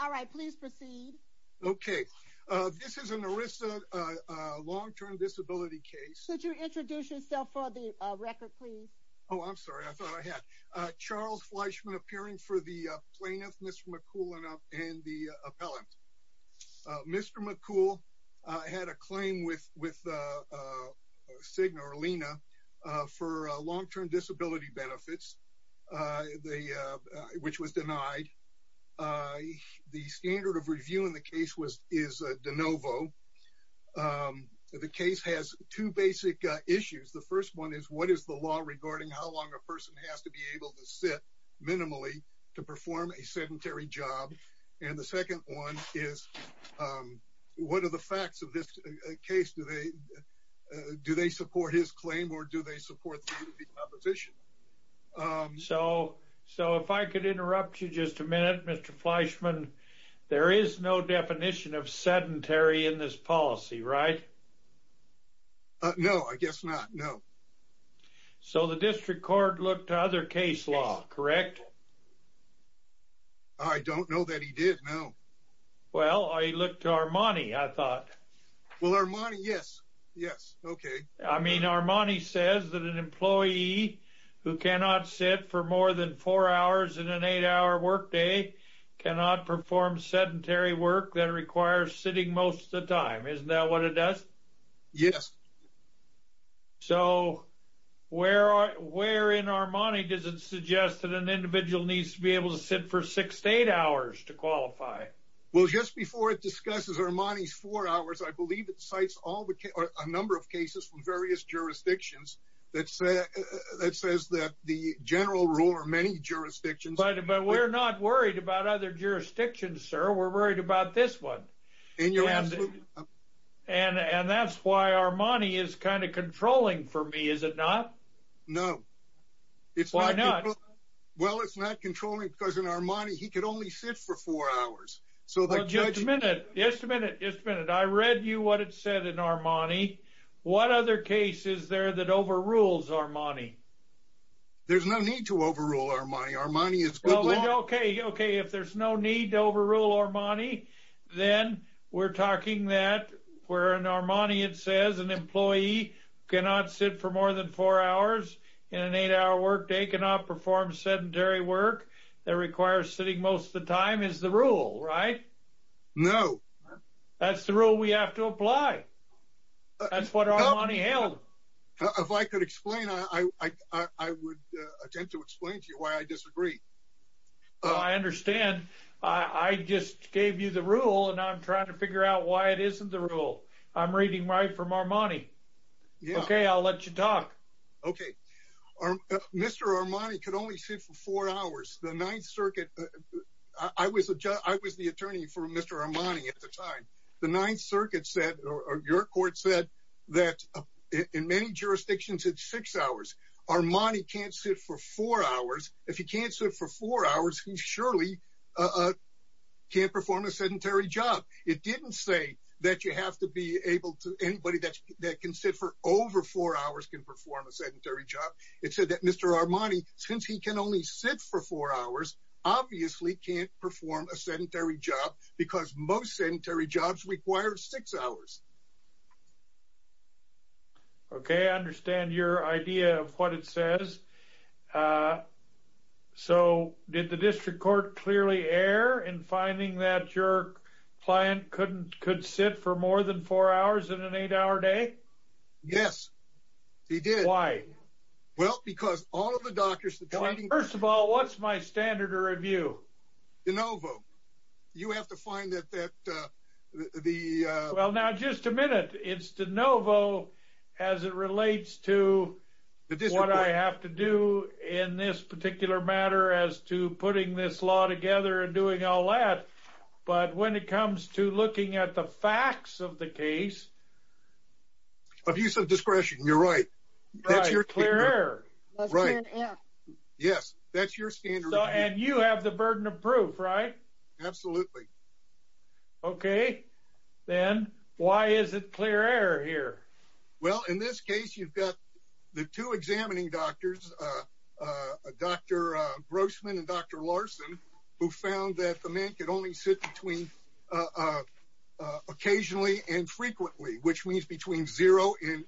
All right, please proceed. Okay. This is an ERISA long-term disability case. Could you introduce yourself for the record, please? Oh, I'm sorry. I thought I had. Charles Fleischman, appearing for the plaintiff, Mr. McCool, and the appellant. Mr. McCool had a claim with SIGNA, or LENA, for long-term disability benefits, which was denied. The standard of review in the case is de novo. The case has two basic issues. The first one is, what is the law regarding how long a person has to be able to sit minimally to perform a sedentary job? And the second one is, what are the facts of this case? Do they support his claim, or do they support the opposition? So, if I could interrupt you just a minute, Mr. Fleischman. There is no definition of sedentary in this policy, right? No, I guess not. No. So the district court looked to other case law, correct? I don't know that he did, no. Well, I looked to Armani, I thought. Well, Armani, yes. Yes. Okay. I mean, Armani says that an employee who cannot sit for more than four hours in an eight-hour workday cannot perform sedentary work that requires sitting most of the time. Isn't that what it does? Yes. So, where in Armani does it suggest that an individual needs to be able to sit for six to eight hours to qualify? Well, just before it discusses Armani's four hours, I believe it cites a number of cases from various jurisdictions that says that the general rule or many jurisdictions. But we're not worried about other jurisdictions, sir. We're worried about this one. And that's why Armani is kind of controlling for me, is it not? No. Why not? Well, it's not controlling because in Armani, he could only sit for four hours. So the judge. Just a minute. Just a minute. I read you what it said in Armani. What other case is there that overrules Armani? There's no need to overrule Armani. Armani is good law. Okay. Okay. That requires sitting most of the time is the rule, right? No. That's the rule we have to apply. That's what Armani held. If I could explain, I would attempt to explain to you why I disagree. I understand. I just gave you the rule, and I'm trying to figure out why it isn't the rule. I'm reading right from Armani. Okay. I'll let you talk. Okay. Mr. Armani could only sit for four hours. The Ninth Circuit. I was the attorney for Mr. Armani at the time. The Ninth Circuit said, or your court said, that in many jurisdictions, it's six hours. Armani can't sit for four hours. If he can't sit for four hours, he surely can't perform a sedentary job. It didn't say that you have to be able to. Anybody that can sit for over four hours can perform a sedentary job. It said that Mr. Armani, since he can only sit for four hours, obviously can't perform a sedentary job because most sedentary jobs require six hours. Okay. I understand your idea of what it says. Did the district court clearly err in finding that your client could sit for more than four hours in an eight-hour day? Yes. He did. Why? Well, because all of the doctors— First of all, what's my standard of review? De Novo. You have to find that the— Well, now, just a minute. It's De Novo as it relates to what I have to do in this particular matter as to putting this law together and doing all that. But when it comes to looking at the facts of the case— Abuse of discretion. You're right. That's your standard. Right. Clear air. Yes. That's your standard. And you have the burden of proof, right? Absolutely. Okay. Then why is it clear air here? Well, in this case, you've got the two examining doctors, Dr. Grossman and Dr. Larson, who found that the man could only sit occasionally and frequently, which means between zero and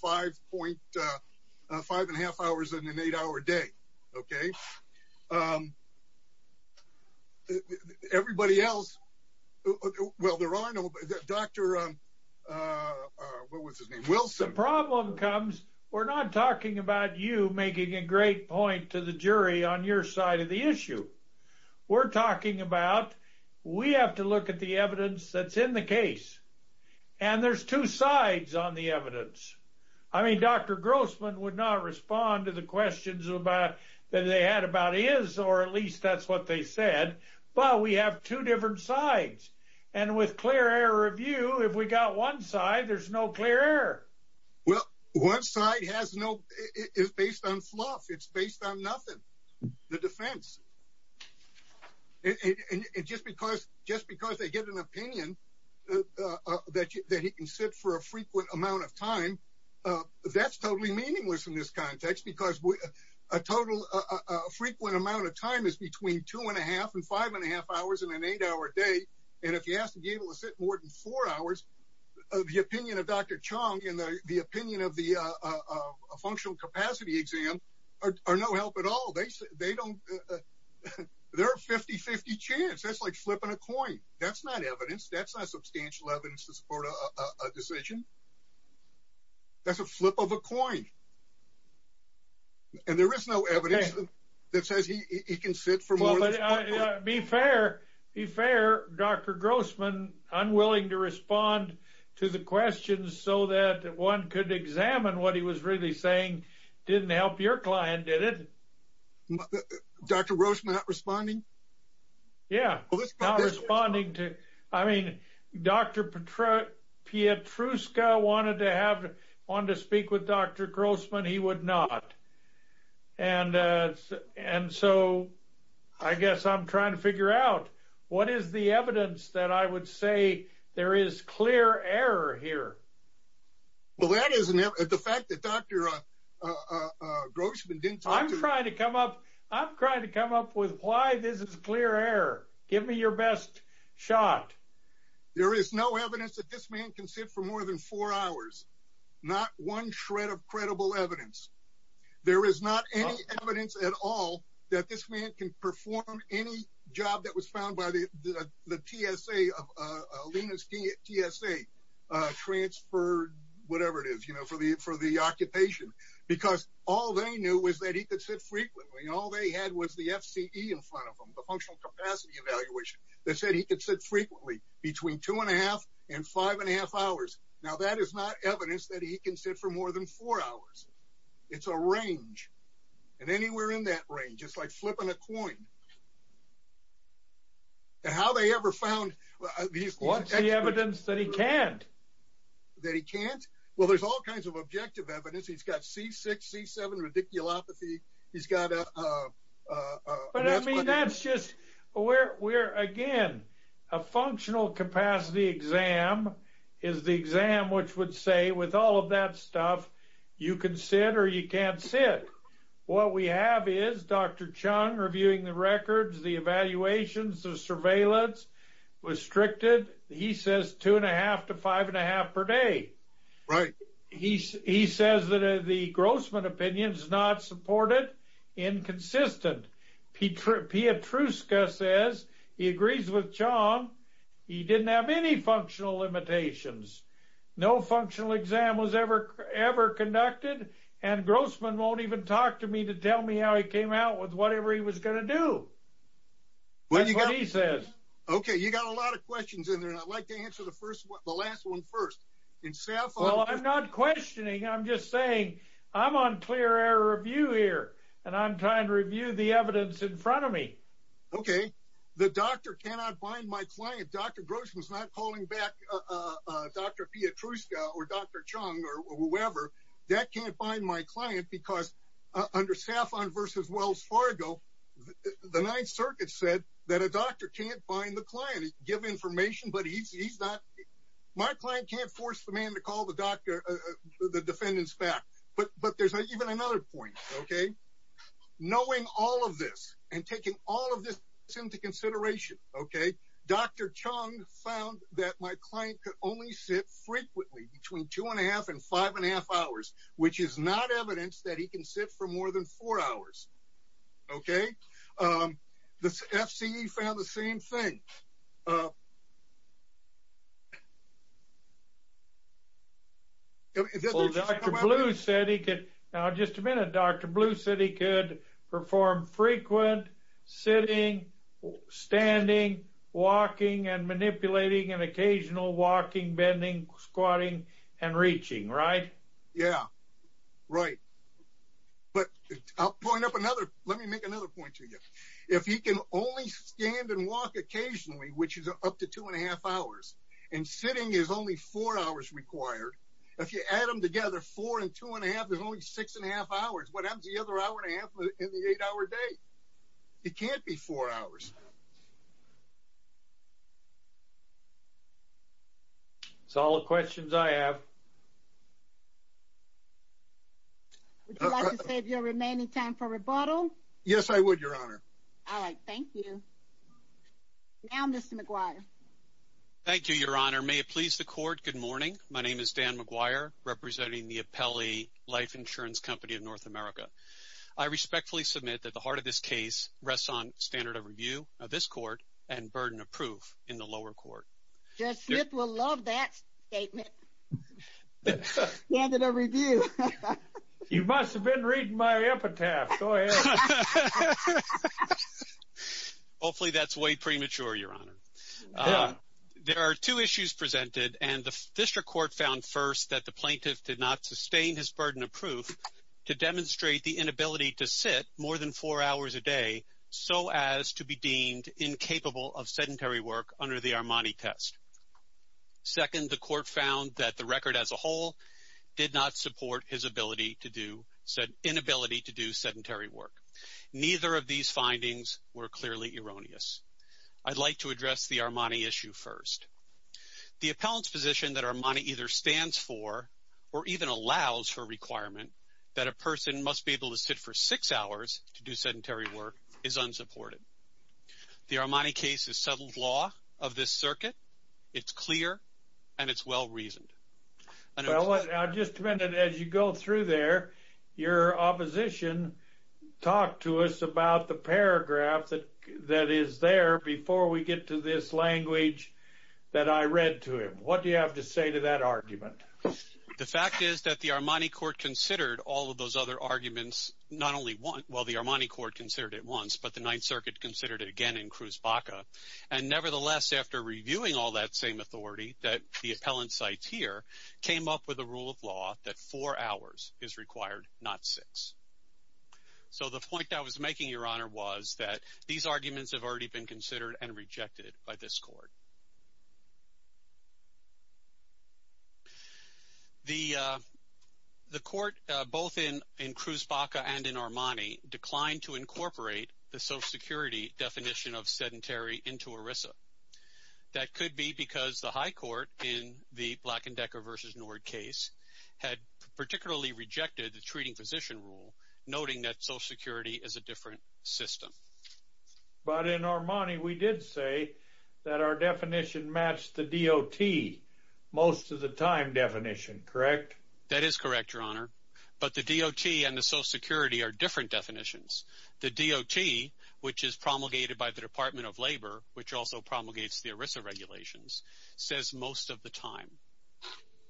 five and a half hours in an eight-hour day. Okay? Everybody else—well, there are no—Dr.—what was his name? Wilson. The problem comes—we're not talking about you making a great point to the jury on your side of the issue. We're talking about we have to look at the evidence that's in the case, and there's two sides on the evidence. I mean, Dr. Grossman would not respond to the questions that they had about his, or at least that's what they said, but we have two different sides. And with clear air review, if we got one side, there's no clear air. Well, one side has no—it's based on fluff. It's based on nothing. The defense. And just because they get an opinion that he can sit for a frequent amount of time, that's totally meaningless in this context, because a total frequent amount of time is between two and a half and five and a half hours in an eight-hour day, and if he has to be able to sit more than four hours, the opinion of Dr. Chong and the opinion of the functional capacity exam are no help at all. They don't—they're a 50-50 chance. That's like flipping a coin. That's not evidence. That's not substantial evidence to support a decision. That's a flip of a coin. And there is no evidence that says he can sit for more than— Dr. Grossman not responding? Yeah. Not responding to—I mean, Dr. Pietruszka wanted to have—wanted to speak with Dr. Grossman. He would not. And so I guess I'm trying to figure out what is the evidence that I would say there is clear error here? Well, that is an—the fact that Dr. Grossman didn't talk to— I'm trying to come up with why this is clear error. Give me your best shot. There is no evidence that this man can sit for more than four hours, not one shred of credible evidence. There is not any evidence at all that this man can perform any job that was found by the TSA, Lena's TSA, transferred, whatever it is, you know, for the occupation, because all they knew was that he could sit frequently. All they had was the FCE in front of them, the Functional Capacity Evaluation, that said he could sit frequently between two-and-a-half and five-and-a-half hours. Now, that is not evidence that he can sit for more than four hours. It's a range, and anywhere in that range. It's like flipping a coin. How they ever found— What's the evidence that he can't? That he can't? Well, there's all kinds of objective evidence. He's got C6, C7, radiculopathy. He's got a— But, I mean, that's just where, again, a functional capacity exam is the exam which would say, with all of that stuff, you can sit or you can't sit. What we have is Dr. Chung reviewing the records, the evaluations, the surveillance, restricted. He says two-and-a-half to five-and-a-half per day. Right. He says that the Grossman opinion is not supported, inconsistent. Pietruszka says he agrees with Chung. He didn't have any functional limitations. No functional exam was ever conducted, and Grossman won't even talk to me to tell me how he came out with whatever he was going to do. What he says. Okay, you've got a lot of questions in there, and I'd like to answer the last one first. Well, I'm not questioning. I'm just saying I'm on clear air review here, and I'm trying to review the evidence in front of me. Okay. The doctor cannot bind my client. If Dr. Grossman is not calling back Dr. Pietruszka or Dr. Chung or whoever, that can't bind my client because under Saffron v. Wells Fargo, the Ninth Circuit said that a doctor can't bind the client, give information, but he's not. My client can't force the man to call the doctor, the defendants back. But there's even another point, okay. Knowing all of this and taking all of this into consideration, okay, Dr. Chung found that my client could only sit frequently between two-and-a-half and five-and-a-half hours, which is not evidence that he can sit for more than four hours. Okay. The FCE found the same thing. Well, Dr. Blue said he could. Now, just a minute. Dr. Blue said he could perform frequent sitting, standing, walking, and manipulating, and occasional walking, bending, squatting, and reaching, right? Yeah, right. But I'll point up another. Let me make another point to you. If he can only stand and walk occasionally, which is up to two-and-a-half hours, and sitting is only four hours required, if you add them together, four and two-and-a-half, there's only six-and-a-half hours. What happens to the other hour and a half in the eight-hour day? It can't be four hours. That's all the questions I have. Would you like to save your remaining time for rebuttal? Yes, I would, Your Honor. All right. Thank you. Now, Mr. McGuire. Thank you, Your Honor. May it please the Court, good morning. My name is Dan McGuire, representing the Apelli Life Insurance Company of North America. I respectfully submit that the heart of this case rests on standard of review of this court and burden of proof in the lower court. Judge Smith will love that statement. Standard of review. You must have been reading my epitaph. Go ahead. Hopefully that's way premature, Your Honor. There are two issues presented, and the district court found, first, that the plaintiff did not sustain his burden of proof to demonstrate the inability to sit more than four hours a day so as to be deemed incapable of sedentary work under the Armani test. Second, the court found that the record as a whole did not support his inability to do sedentary work. Neither of these findings were clearly erroneous. I'd like to address the Armani issue first. The appellant's position that Armani either stands for or even allows for a requirement that a person must be able to sit for six hours to do sedentary work is unsupported. The Armani case is settled law of this circuit. It's clear, and it's well-reasoned. Now, just a minute. As you go through there, your opposition talked to us about the paragraph that is there before we get to this language that I read to him. What do you have to say to that argument? The fact is that the Armani court considered all of those other arguments not only once. Well, the Armani court considered it once, but the Ninth Circuit considered it again in Cruz Baca, and nevertheless, after reviewing all that same authority that the appellant cites here, came up with a rule of law that four hours is required, not six. So the point I was making, Your Honor, was that these arguments have already been considered and rejected by this court. The court, both in Cruz Baca and in Armani, declined to incorporate the social security definition of sedentary into ERISA. That could be because the high court in the Black & Decker v. Nord case had particularly rejected the treating physician rule, noting that social security is a different system. But in Armani, we did say that our definition matched the DOT most of the time definition, correct? That is correct, Your Honor, but the DOT and the social security are different definitions. The DOT, which is promulgated by the Department of Labor, which also promulgates the ERISA regulations, says most of the time.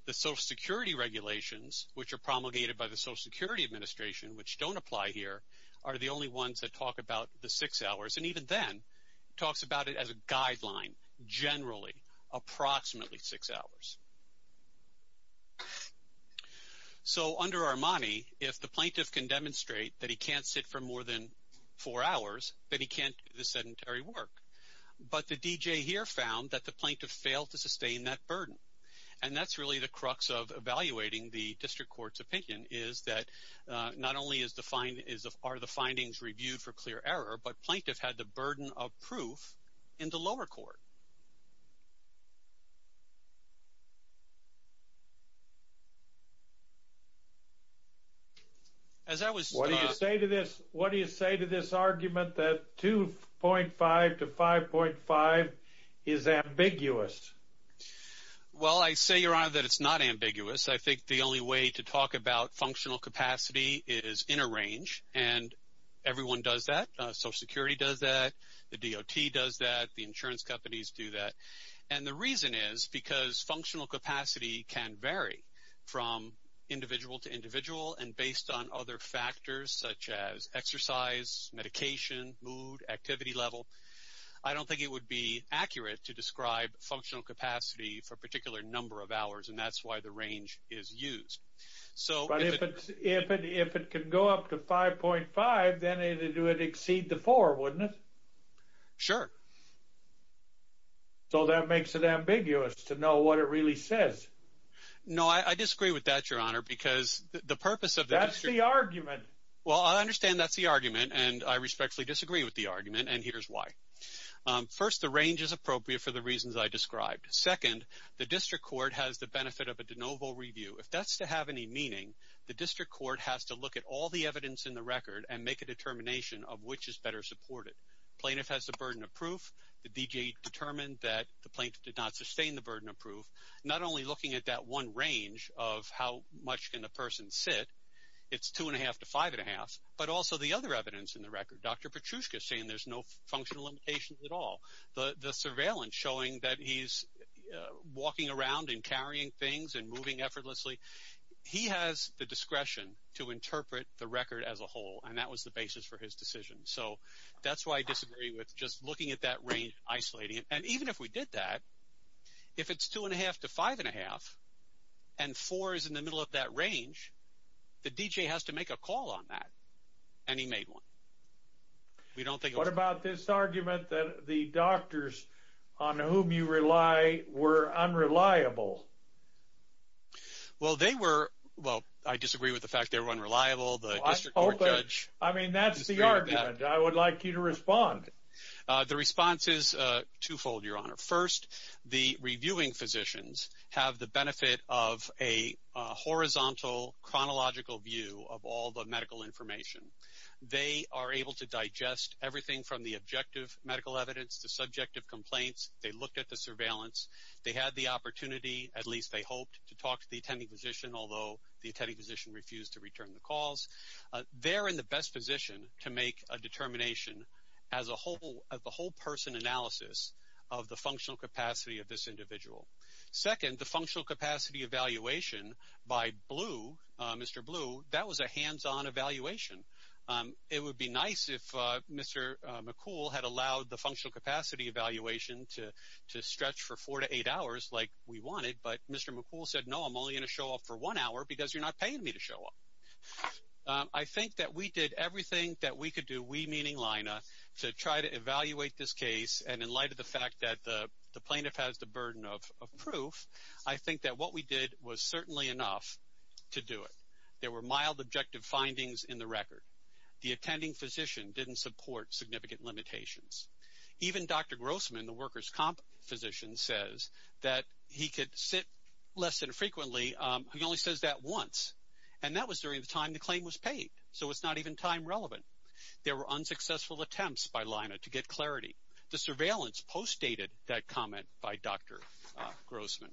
The social security regulations, which are promulgated by the Social Security Administration, which don't apply here, are the only ones that talk about the six hours. And even then, it talks about it as a guideline, generally, approximately six hours. So under Armani, if the plaintiff can demonstrate that he can't sit for more than four hours, then he can't do the sedentary work. But the DJ here found that the plaintiff failed to sustain that burden. And that's really the crux of evaluating the district court's opinion, is that not only are the findings reviewed for clear error, but plaintiff had the burden of proof in the lower court. What do you say to this argument that 2.5 to 5.5 is ambiguous? Well, I say, Your Honor, that it's not ambiguous. I think the only way to talk about functional capacity is in a range, and everyone does that. Social Security does that. The DOT does that. The insurance companies do that. And the reason is because functional capacity can vary from individual to individual, and based on other factors such as exercise, medication, mood, activity level, I don't think it would be accurate to describe functional capacity for a particular number of hours, and that's why the range is used. But if it could go up to 5.5, then it would exceed the four, wouldn't it? Sure. So that makes it ambiguous to know what it really says. No, I disagree with that, Your Honor, because the purpose of the district court. That's the argument. Well, I understand that's the argument, and I respectfully disagree with the argument, and here's why. First, the range is appropriate for the reasons I described. Second, the district court has the benefit of a de novo review. If that's to have any meaning, the district court has to look at all the evidence in the record and make a determination of which is better supported. Plaintiff has the burden of proof. The D.J. determined that the plaintiff did not sustain the burden of proof. Not only looking at that one range of how much can a person sit, it's 2.5 to 5.5, but also the other evidence in the record. Dr. Petrushka is saying there's no functional limitations at all. The surveillance showing that he's walking around and carrying things and moving effortlessly, he has the discretion to interpret the record as a whole, and that was the basis for his decision. So that's why I disagree with just looking at that range, isolating it. And even if we did that, if it's 2.5 to 5.5 and 4 is in the middle of that range, the D.J. has to make a call on that, and he made one. What about this argument that the doctors on whom you rely were unreliable? Well, they were. Well, I disagree with the fact they were unreliable. I mean, that's the argument. I would like you to respond. The response is twofold, Your Honor. First, the reviewing physicians have the benefit of a horizontal chronological view of all the medical information. They are able to digest everything from the objective medical evidence to subjective complaints. They looked at the surveillance. They had the opportunity, at least they hoped, to talk to the attending physician, although the attending physician refused to return the calls. They're in the best position to make a determination as a whole, of the whole person analysis of the functional capacity of this individual. Second, the functional capacity evaluation by Blue, Mr. Blue, that was a hands-on evaluation. It would be nice if Mr. McCool had allowed the functional capacity evaluation to stretch for four to eight hours like we wanted, but Mr. McCool said, no, I'm only going to show up for one hour because you're not paying me to show up. I think that we did everything that we could do, we meaning Lina, to try to evaluate this case, and in light of the fact that the plaintiff has the burden of proof, I think that what we did was certainly enough to do it. There were mild objective findings in the record. The attending physician didn't support significant limitations. Even Dr. Grossman, the workers' comp physician, says that he could sit less than frequently. He only says that once, and that was during the time the claim was paid, so it's not even time relevant. There were unsuccessful attempts by Lina to get clarity. The surveillance postdated that comment by Dr. Grossman.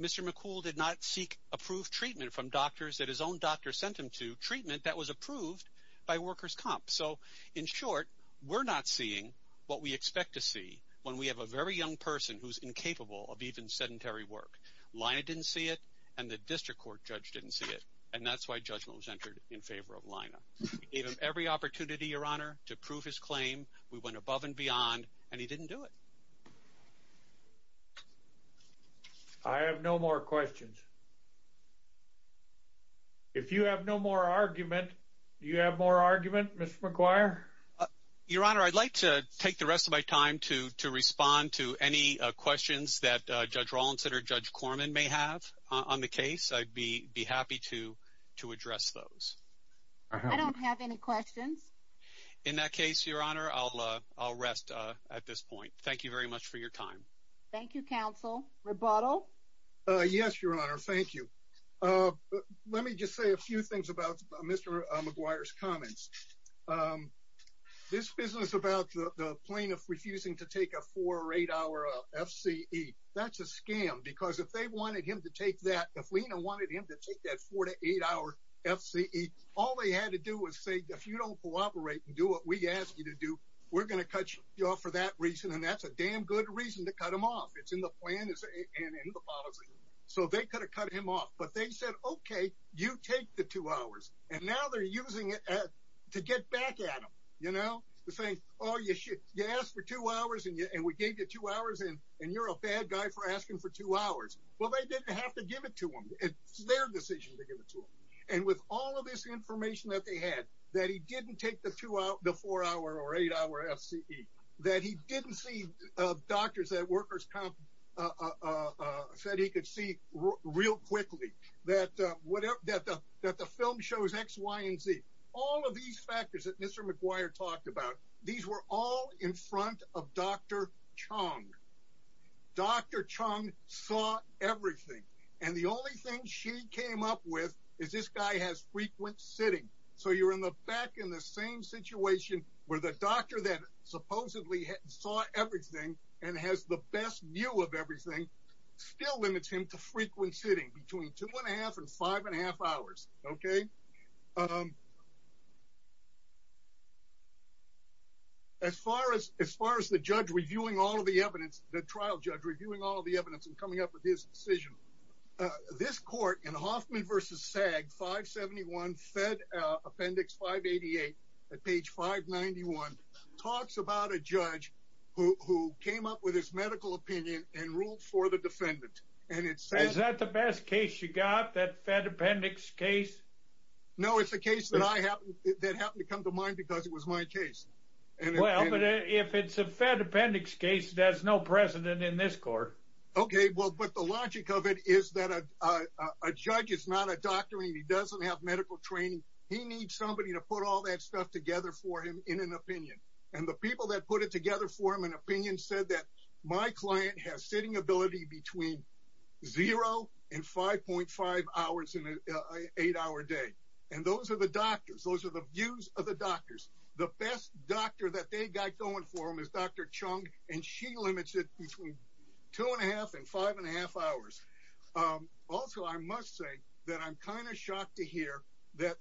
Mr. McCool did not seek approved treatment from doctors that his own doctor sent him to, treatment that was approved by workers' comp. So, in short, we're not seeing what we expect to see when we have a very young person who's incapable of even sedentary work. Lina didn't see it, and the district court judge didn't see it, and that's why judgment was entered in favor of Lina. We gave him every opportunity, Your Honor, to prove his claim. We went above and beyond, and he didn't do it. I have no more questions. If you have no more argument, do you have more argument, Mr. McGuire? Your Honor, I'd like to take the rest of my time to respond to any questions that Judge Rawlinson or Judge Corman may have on the case. I'd be happy to address those. I don't have any questions. In that case, Your Honor, I'll rest at this point. Thank you very much for your time. Thank you, counsel. Rebuttal? Yes, Your Honor, thank you. Let me just say a few things about Mr. McGuire's comments. This business about the plaintiff refusing to take a four- or eight-hour FCE, that's a scam, because if they wanted him to take that, if Lina wanted him to take that four- to eight-hour FCE, all they had to do was say, if you don't cooperate and do what we ask you to do, we're going to cut you off for that reason, and that's a damn good reason to cut him off. It's in the plan and in the policy. So they could have cut him off, but they said, okay, you take the two hours. And now they're using it to get back at him, you know, saying, oh, you asked for two hours, and we gave you two hours, and you're a bad guy for asking for two hours. Well, they didn't have to give it to him. It's their decision to give it to him. And with all of this information that they had, that he didn't take the four-hour or eight-hour FCE, that he didn't see doctors at workers' comp, said he could see real quickly, that the film shows X, Y, and Z, all of these factors that Mr. McGuire talked about, these were all in front of Dr. Chung. Dr. Chung saw everything, and the only thing she came up with is this guy has frequent sitting. So you're in the back in the same situation where the doctor that supposedly saw everything and has the best view of everything still limits him to frequent sitting between two and a half and five and a half hours, okay? As far as the judge reviewing all of the evidence, the trial judge reviewing all of the evidence and coming up with his decision, this court in Hoffman v. SAG 571, Fed Appendix 588 at page 591, talks about a judge who came up with his medical opinion and ruled for the defendant. Is that the best case you got, that Fed Appendix case? No, it's a case that happened to come to mind because it was my case. Well, but if it's a Fed Appendix case, there's no precedent in this court. Okay, well, but the logic of it is that a judge is not a doctor and he doesn't have medical training. He needs somebody to put all that stuff together for him in an opinion. And the people that put it together for him in an opinion said that my client has sitting ability between zero and 5.5 hours in an eight-hour day. And those are the doctors. Those are the views of the doctors. The best doctor that they got going for him is Dr. Chung, and she limits it between two and a half and five and a half hours. Also, I must say that I'm kind of shocked to hear that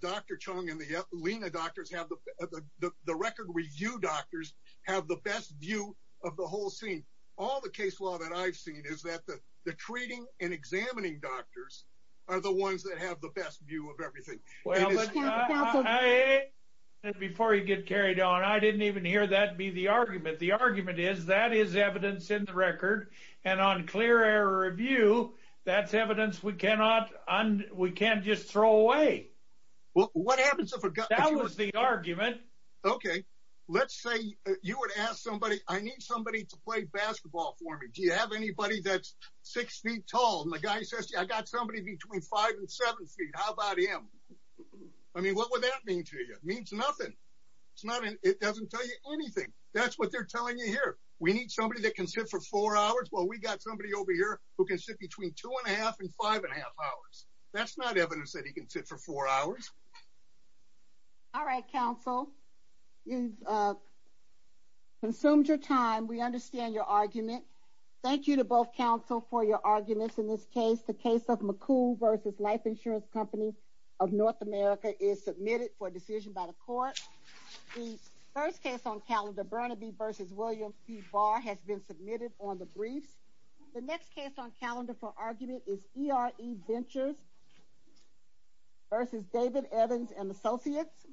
Dr. Chung and the LENA doctors, the record review doctors, have the best view of the whole scene. All the case law that I've seen is that the treating and examining doctors are the ones that have the best view of everything. Before you get carried on, I didn't even hear that be the argument. The argument is that is evidence in the record, and on clear error review, that's evidence we can't just throw away. That was the argument. Okay, let's say you would ask somebody, I need somebody to play basketball for me. Do you have anybody that's six feet tall? And the guy says, I got somebody between five and seven feet. How about him? I mean, what would that mean to you? It means nothing. It doesn't tell you anything. That's what they're telling you here. We need somebody that can sit for four hours. Well, we got somebody over here who can sit between two and a half and five and a half hours. That's not evidence that he can sit for four hours. All right, counsel, you've consumed your time. We understand your argument. Thank you to both counsel for your arguments in this case. The case of McCool v. Life Insurance Company of North America is submitted for decision by the court. The first case on calendar, Burnaby v. Williams v. Barr, has been submitted on the briefs. The next case on calendar for argument is E.R.E. Ventures v. David Evans & Associates.